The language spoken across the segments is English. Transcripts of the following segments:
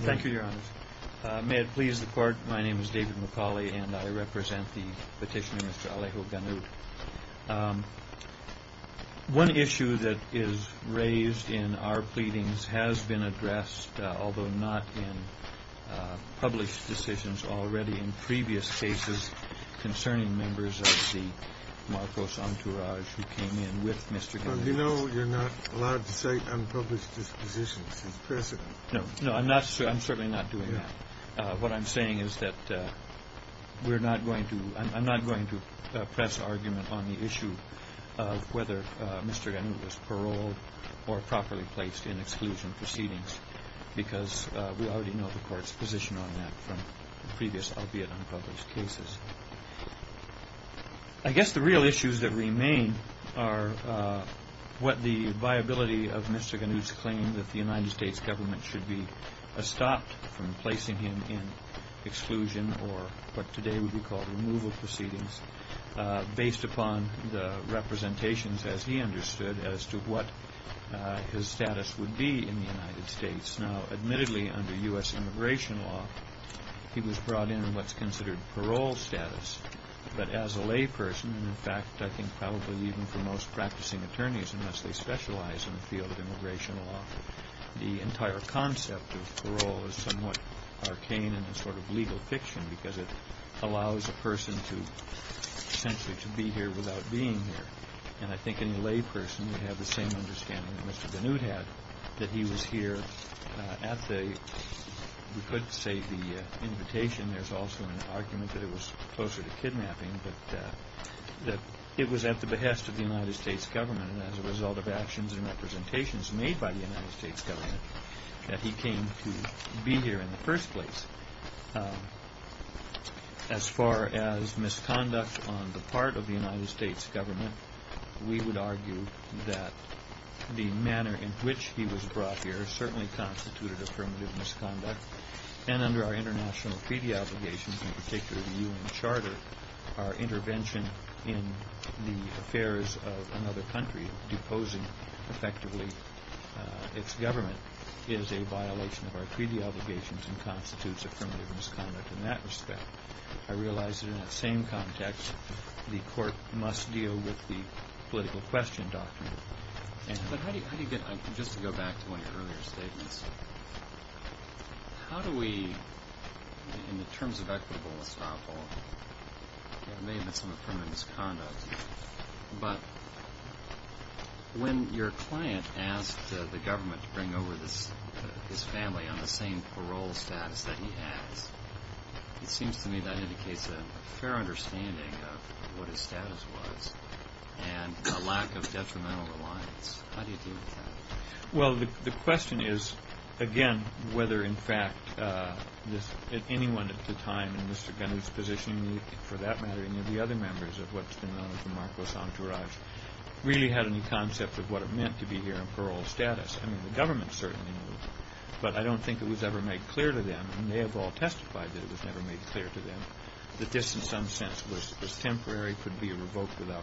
Thank you, Your Honor. May it please the Court, my name is David McCauley and I represent the petitioner, Mr. Alejo Ganut. One issue that is raised in our pleadings has been addressed, although not in published decisions, already in previous cases concerning members of the Marcos entourage who came in with Mr. Ganut. Mr. Ganut You know you're not allowed to cite unpublished dispositions. It's precedent. David McCauley No, I'm certainly not doing that. What I'm saying is that we're not going to, I'm not going to press argument on the issue of whether Mr. Ganut was paroled or properly placed in exclusion proceedings because we already know the Court's position on that from previous, albeit unpublished, cases. I guess the real issues that remain are what the viability of Mr. Ganut's claim that the or what today would be called removal proceedings, based upon the representations, as he understood, as to what his status would be in the United States. Now, admittedly, under U.S. immigration law, he was brought in what's considered parole status. But as a layperson, in fact, I think probably even for most practicing attorneys, unless they specialize in the field of immigration law, the entire concept of parole is somewhat arcane and a sort of legal fiction because it allows a person to essentially to be here without being here. And I think any layperson would have the same understanding that Mr. Ganut had, that he was here at the, we could say the invitation, there's also an argument that it was closer to kidnapping, but that it was at the behest of the United States government as a result of actions and representations made by the United States government, that he came to be here in the first place. As far as misconduct on the part of the United States government, we would argue that the manner in which he was brought here certainly constituted affirmative misconduct. And under our international treaty obligations, in particular the UN Charter, our intervention in the affairs of another country deposing effectively its government is a violation of our treaty obligations and constitutes affirmative misconduct in that respect. I realize that in that same context the court must deal with the political question document. But how do you get, just to go back to one of your earlier statements, how do we, in terms of equitable estoppel, it may have been some affirmative misconduct, but when your client asked the government to bring over his family on the same parole status that he has, it seems to me that indicates a fair understanding of what his status was and a lack of detrimental reliance. How do you deal with that? Well, the question is, again, whether in fact anyone at the time in Mr. Gunny's position, for that matter any of the other members of what's been known as the Marcos Entourage, really had any concept of what it meant to be here on parole status. I mean, the government certainly knew, but I don't think it was ever made clear to them, and they have all testified that it was never made clear to them, that this in some sense was temporary, could be temporary.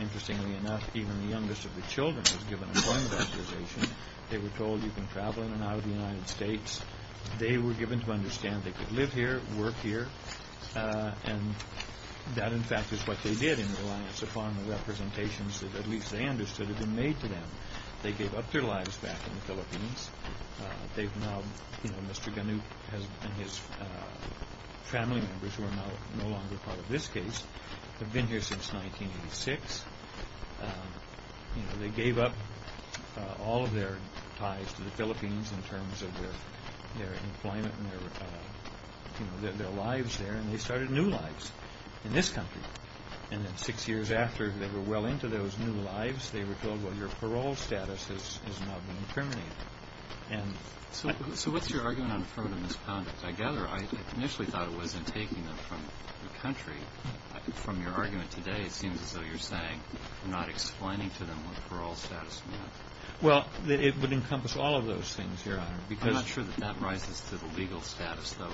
Interestingly enough, even the youngest of the children was given a form of authorization. They were told you can travel in and out of the United States. They were given to understand they could live here, work here, and that in fact is what they did in reliance upon the representations that at least they understood had been made to them. They gave up their lives back in the Philippines. They've now, you know, Mr. Gunny and his family members who are now no longer part of this case, have been here since 1986, you know, they gave up all of their ties to the Philippines in terms of their employment and their, you know, their lives there, and they started new lives in this country. And then six years after they were well into those new lives, they were told, well, your parole status is now being terminated. And... So what's your argument on affirmative misconduct? I gather, I initially thought it was in taking them from the country. From your argument today, it seems as though you're saying you're not explaining to them what the parole status meant. Well, it would encompass all of those things, Your Honor, because... I'm not sure that that rises to the legal status, though.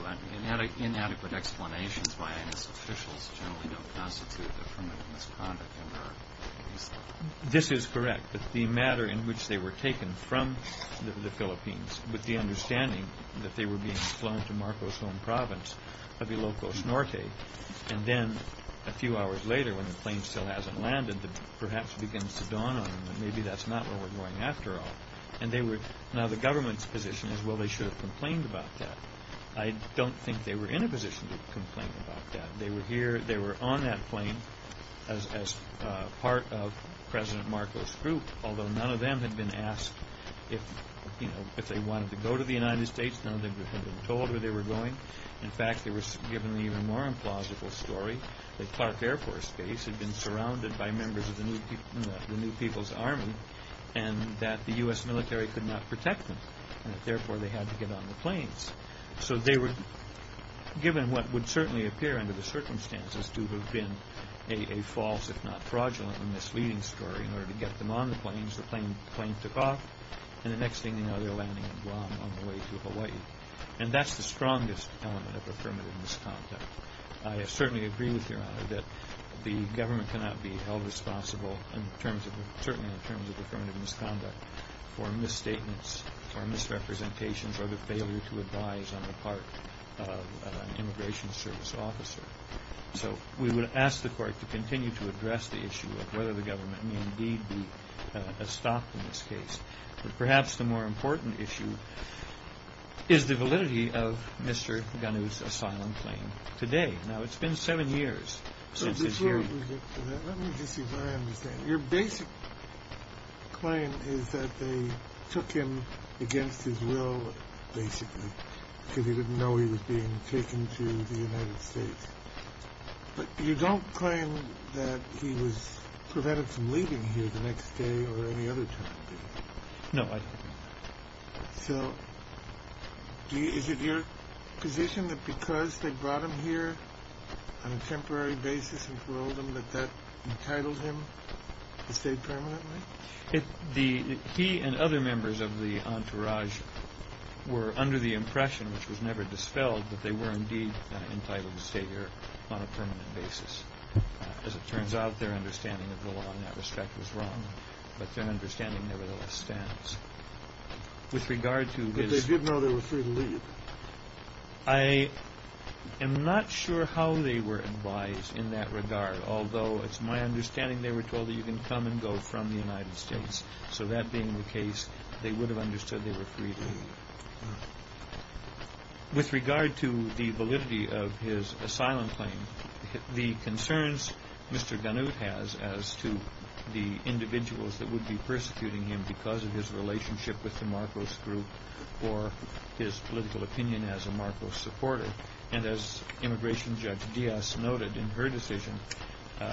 Inadequate explanations by institutions generally don't constitute affirmative misconduct in our case. This is correct, that the matter in which they were taken from the Philippines, with the understanding that they were being flown to Marcos' home province of Ilocos Norte, and then a few hours later, when the plane still hasn't landed, it perhaps begins to dawn on them that maybe that's not where we're going after all. And they were... Now, the government's position is, well, they should have complained about that. I don't think they were in a position to complain about that. They were here, they were on that plane as part of President Marcos' group, although none of them had been asked if, you know, if they wanted to go to the United States. None of them had been told where they were going. In fact, they were given the even more implausible story that Clark Air Force Base had been surrounded by members of the New People's Army, and that the U.S. military could not protect them, and that therefore they had to get on the planes. So they were given what would certainly appear under the circumstances to have been a false, if not fraudulent, and misleading story in order to get them on the planes. The planes took off, and the next thing you know, they're landing in Guam on the way to Hawaii. And that's the strongest element of affirmative misconduct. I certainly agree with Your Honor that the government cannot be held responsible, certainly in terms of affirmative misconduct, for misstatements or misrepresentations or the failure to advise on the part of an immigration service officer. So we would ask the court to continue to address the issue of whether the government need be stopped in this case. But perhaps the more important issue is the validity of Mr. Ghanou's asylum claim today. Now, it's been seven years since his hearing. Let me just see if I understand. Your basic claim is that they took him against his will, basically, because he didn't know he was being taken to the United States. But you don't claim that he was prevented from leaving here the next day or any other time, do you? No, I don't. So, is it your position that because they brought him here on a temporary basis and paroled him, that that entitled him to stay permanently? He and other members of the entourage were under the impression, which was never dispelled, that they were indeed entitled to stay here on a permanent basis. As it turns out, their understanding of the law in that respect was wrong. But their understanding nevertheless stands. But they did know they were free to leave. I am not sure how they were advised in that regard, although it's my understanding they were told that you can come and go from the United States. So that being the case, they would have understood they were free to leave. With regard to the validity of his asylum claim, the concerns Mr. Gannute has as to the individuals that would be persecuting him because of his relationship with the Marcos group or his political opinion as a Marcos supporter, and as Immigration Judge Diaz noted in her decision,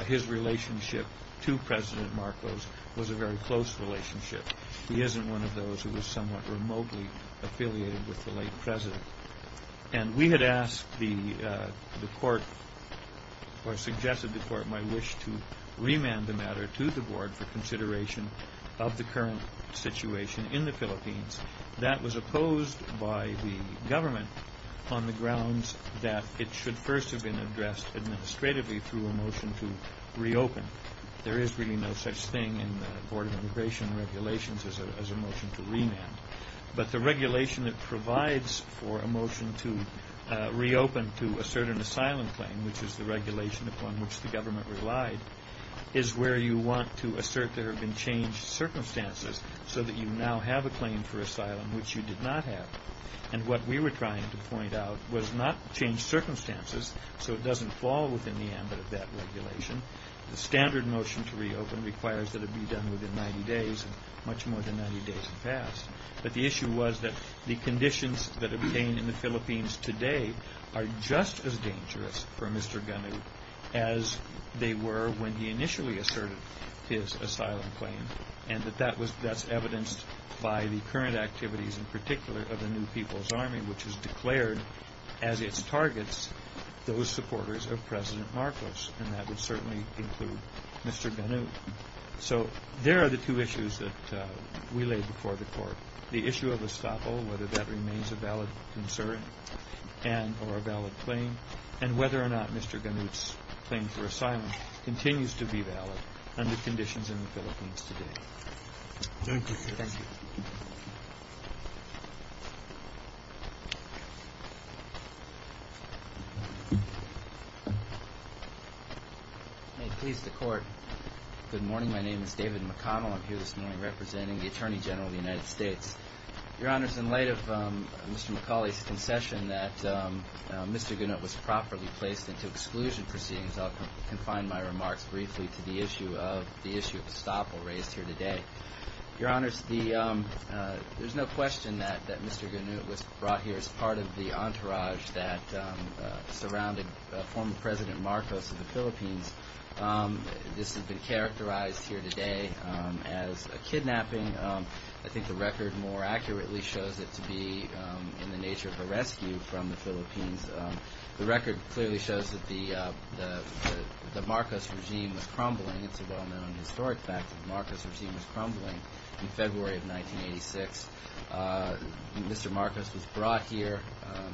his relationship to President Marcos was a very close relationship. He isn't one of those who was somewhat remotely affiliated with the late president. And we had asked the court or suggested the court my wish to remand the matter to the board for consideration of the current situation in the Philippines. That was opposed by the government on the grounds that it should first have been addressed administratively through a motion to reopen. There is really no such thing in the Board of Immigration Regulations as a motion to remand. But the regulation that provides for a motion to reopen to assert an asylum claim, which is the regulation upon which the government relied, is where you want to assert there have been changed circumstances so that you now have a claim for asylum which you did not have. And what we were trying to point out was not changed circumstances so it doesn't fall within the ambit of that regulation. The standard motion to reopen requires that it be done within 90 days, and much more than 90 days has passed. But the issue was that the conditions that are obtained in the Philippines today are just as dangerous for Mr. Gunu as they were when he initially asserted his asylum claim, and that that's evidenced by the current activities in particular of the New People's Army, which has declared as its targets those supporters of President Marcos, and that would certainly include Mr. Gunu. So there are the two issues that we laid before the Court, the issue of estoppel, whether that remains a valid concern and or a valid claim, and whether or not Mr. Gunu's claim for asylum continues to be valid under conditions in the Philippines today. Thank you. May it please the Court. Good morning. My name is David McConnell. I'm here this morning representing the Attorney General of the United States. Your Honors, in light of Mr. McCauley's concession that Mr. Gunu was properly placed into exclusion proceedings, I'll confine my Your Honors, there's no question that Mr. Gunu was brought here as part of the entourage that surrounded former President Marcos of the Philippines. This has been characterized here today as a kidnapping. I think the record more accurately shows it to be in the nature of a rescue from the Philippines. The record clearly shows that the Marcos regime was crumbling. It's a well-known historic fact that the Marcos regime was crumbling in February of 1986. Mr. Marcos was brought here.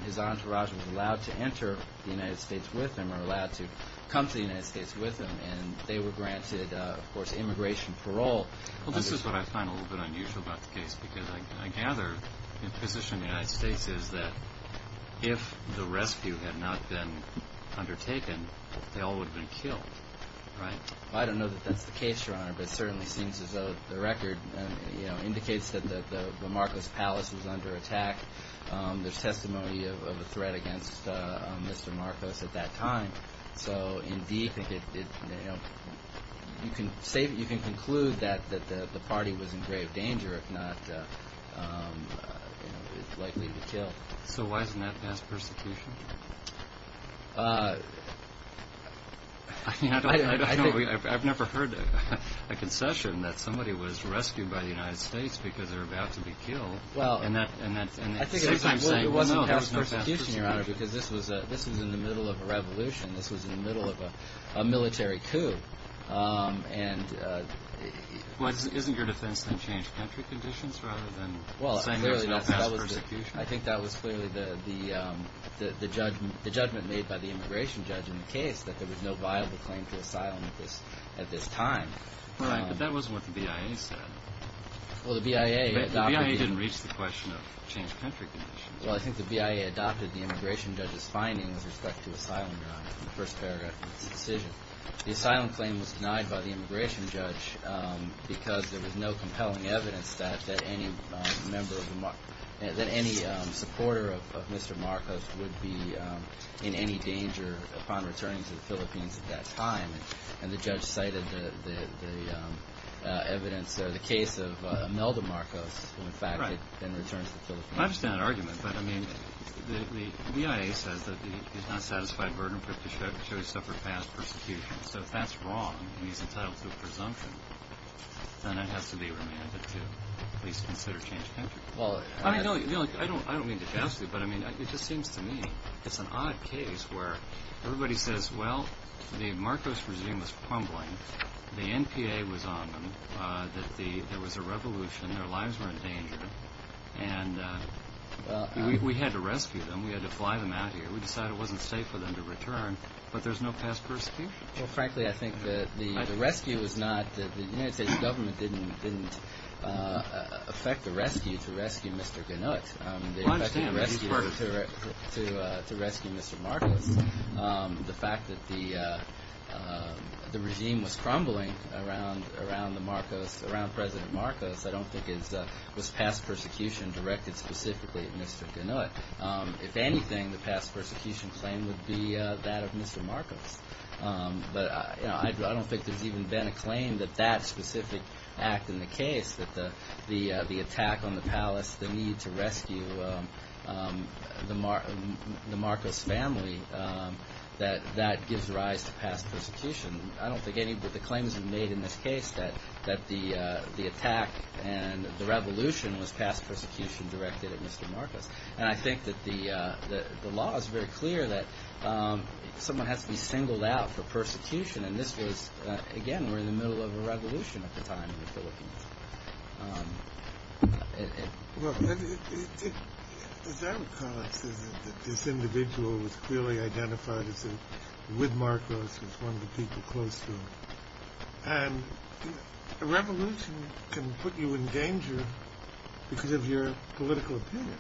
His entourage was allowed to enter the United States with him or allowed to come to the United States with him, and they were granted, of course, immigration parole. Well, this is what I find a little bit unusual about the case, because I gather the position of the United States is that if the rescue had not been undertaken, they all would have been killed, right? I don't know that that's the case, Your Honor, but it certainly seems as though the record indicates that the Marcos Palace was under attack. There's testimony of a threat against Mr. Marcos at that time. So, indeed, you can conclude that the party was in grave danger, if not likely to be killed. So why isn't that a past persecution? I don't know. I've never heard a concession that somebody was rescued by the United States because they were about to be killed. And at the same time, it wasn't a past persecution, Your Honor, because this was in the middle of a revolution. This was in the middle of a military coup. Well, isn't your defense then change country conditions rather than saying there's no past persecution? Well, I think that was clearly the judgment made by the immigration judge in the case, that there was no viable claim to asylum at this time. Right, but that was what the BIA said. Well, the BIA adopted... The BIA didn't reach the question of change country conditions. Well, I think the BIA adopted the immigration judge's findings with respect to asylum, Your Honor, in the first paragraph of this decision. The asylum claim was denied by the immigration judge because there was no compelling evidence that any supporter of Mr. Marcos would be in any danger upon returning to the Philippines at that time. And the judge cited the evidence or the case of Imelda Marcos, who in fact had been returned to the Philippines. I understand that argument, but I mean, the BIA says that he's not satisfied burden for the judge to suffer past persecution. So if that's wrong and he's entitled to a presumption, then that has to be remanded to at least consider change country conditions. I don't mean to gas you, but it just seems to me it's an odd case where everybody says, well, the Marcos regime was crumbling, the NPA was on them, that there was a revolution, their lives were in danger, and we had to rescue them, we had to fly them out of here, we decided it wasn't safe for them to return, but there's no past persecution. The rescue was not, the United States government didn't affect the rescue to rescue Mr. Gannut. They affected the rescue to rescue Mr. Marcos. The fact that the regime was crumbling around the Marcos, around President Marcos, I don't think was past persecution directed specifically at Mr. Gannut. If anything, the past persecution claim would be that of Mr. Marcos. But I don't think there's even been a claim that that specific act in the case, that the attack on the palace, the need to rescue the Marcos family, that that gives rise to past persecution. I don't think any of the claims were made in this case that the attack and the revolution was past persecution directed at Mr. Marcos. And I think that the law is very clear that someone has to be singled out for persecution, and this was, again, we're in the middle of a revolution at the time in the Philippines. Well, it's out of context that this individual was clearly identified as a, with Marcos, as one of the people close to him. And a revolution can put you in danger because of your political opinion.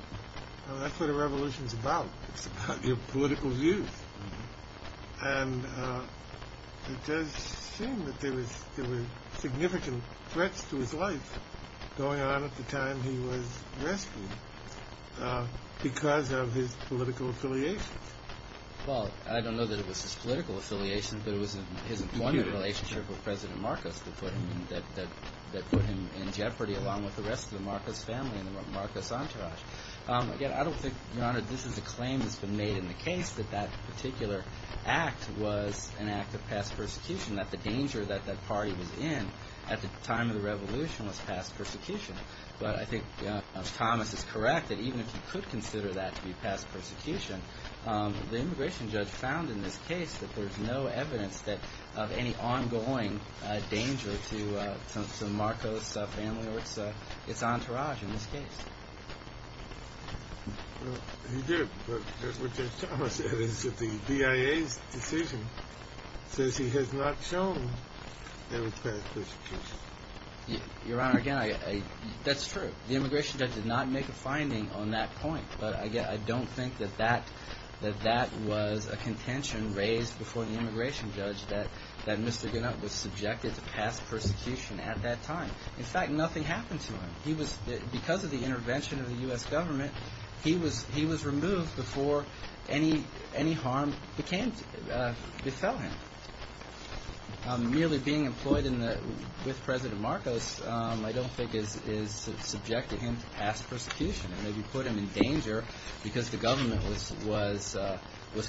That's what a revolution's about. It's about your political views. And it does seem that there were significant threats to his life going on at the time he was rescued because of his political affiliation. Well, I don't know that it was his political affiliation, but it was his employment relationship with President Marcos that put him in jeopardy along with the rest of the Marcos family and Marcos' entourage. Again, I don't think, Your Honor, this is a claim that's been made in the case that that particular act was an act of past persecution, that the danger that that party was in at the time of the revolution was past persecution. But I think Thomas is correct that even if you could consider that to be past persecution, the immigration judge found in this case that there's no evidence of any ongoing danger to Marcos' family or its entourage in this case. Well, he did. But what Thomas said is that the DIA's decision says he has not shown that it's past persecution. Your Honor, again, that's true. The immigration judge did not make a finding on that point. But again, I don't think that that was a contention raised before the immigration judge that Mr. Marcos was past persecution at that time. In fact, nothing happened to him. Because of the intervention of the U.S. government, he was removed before any harm befell him. Merely being employed with President Marcos, I don't think is subject to him past persecution. I mean, you put him in danger because the government was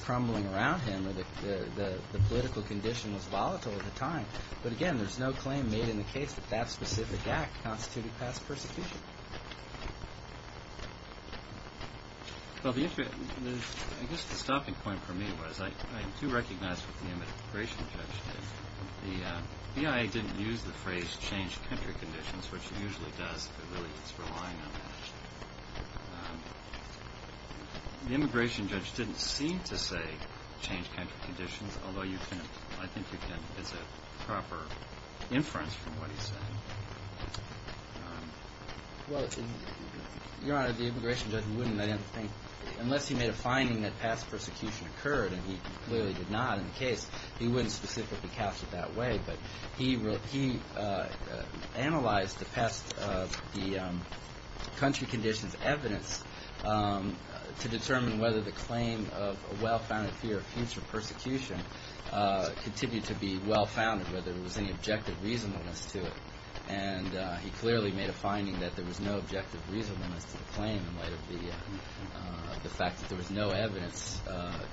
crumbling around him, and the political condition was volatile at the time. But again, there's no claim made in the case that that specific act constituted past persecution. Well, I guess the stopping point for me was I do recognize what the immigration judge did. The DIA didn't use the phrase change country conditions, which it usually does, but really it's relying on that. The immigration judge didn't seem to say change country conditions, although I think it's a proper inference from what he's saying. Well, Your Honor, the immigration judge wouldn't, I don't think. Unless he made a finding that past persecution occurred, and he clearly did not in the case, he wouldn't specifically cast it that way. But he analyzed the past country conditions evidence to determine whether the claim of a well-founded fear of future persecution continued to be well-founded, whether there was any objective reasonableness to it. And he clearly made a finding that there was no objective reasonableness to the claim in light of the fact that there was no evidence,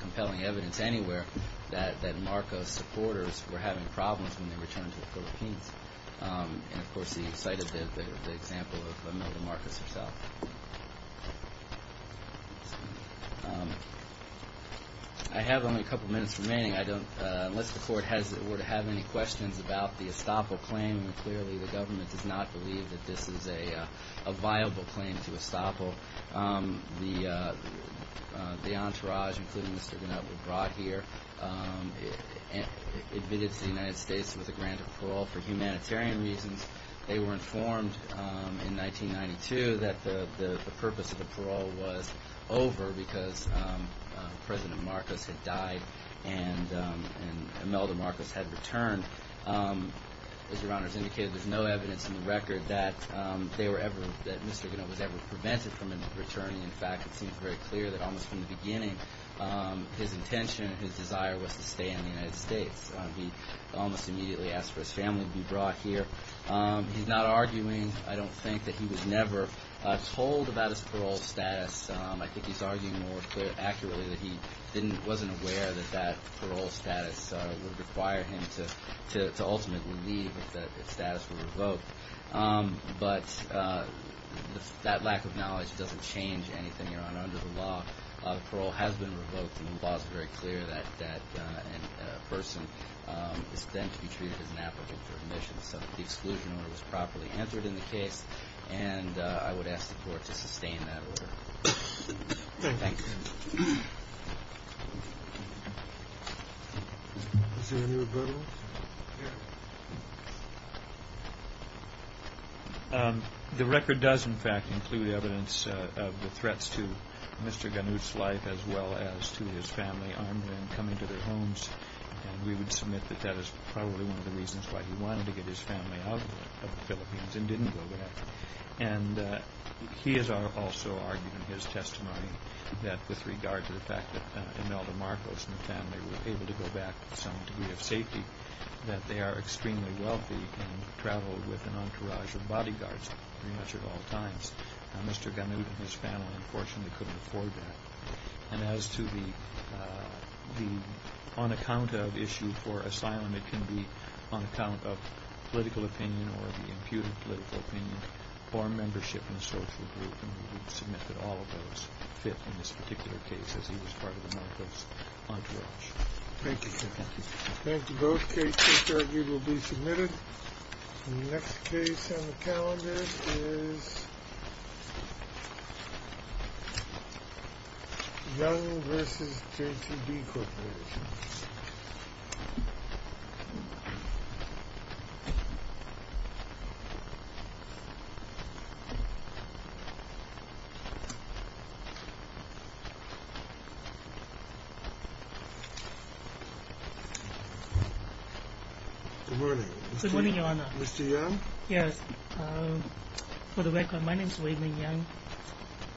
compelling evidence anywhere, that Marcos supporters were having problems when they returned to the Philippines. And, of course, he cited the example of Imelda Marcos herself. I have only a couple minutes remaining. Unless the Court were to have any questions about the Estoppel claim, clearly the government does not believe that this is a viable claim to Estoppel. The entourage, including Mr. Gnupp, were brought here, admitted to the United States with a grant of parole for humanitarian reasons. They were informed in 1992 that the purpose of the parole was over because President Marcos had died and Imelda Marcos had returned. As Your Honors indicated, there's no evidence in the record that Mr. Gnupp was ever prevented from returning. In fact, it seems very clear that almost from the beginning his intention, his desire, was to stay in the United States. He almost immediately asked for his family to be brought here. He's not arguing, I don't think, that he was never told about his parole status. I think he's arguing more accurately that he wasn't aware that that parole status would require him to ultimately leave if that status were revoked. But that lack of knowledge doesn't change anything, Your Honor. Under the law, parole has been revoked, and the law is very clear that a person is then to be treated as an applicant for admission. So the exclusion order was properly answered in the case, and I would ask the Court to sustain that order. Thank you. Any other questions? Is there any rebuttals? The record does, in fact, include evidence of the threats to Mr. Gnupp's life as well as to his family armed with him coming to their homes, and we would submit that that is probably one of the reasons why he wanted to get his family out of the Philippines and didn't go back. And he is also arguing in his testimony that with regard to the fact that Imelda Marcos and the family were able to go back to some degree of safety, that they are extremely wealthy and traveled with an entourage of bodyguards pretty much at all times. Mr. Gnupp and his family, unfortunately, couldn't afford that. And as to the on-account-of issue for asylum, it can be on account of political opinion or of the imputed political opinion or membership in a social group, and we would submit that all of those fit in this particular case, as he was part of the Marcos entourage. Thank you. Thank you. Thank you. Both cases will be submitted. The next case on the calendar is Young v. JTD Corporation. Good morning. Good morning, Your Honor. Mr. Young? Yes. For the record, my name is Wayman Young.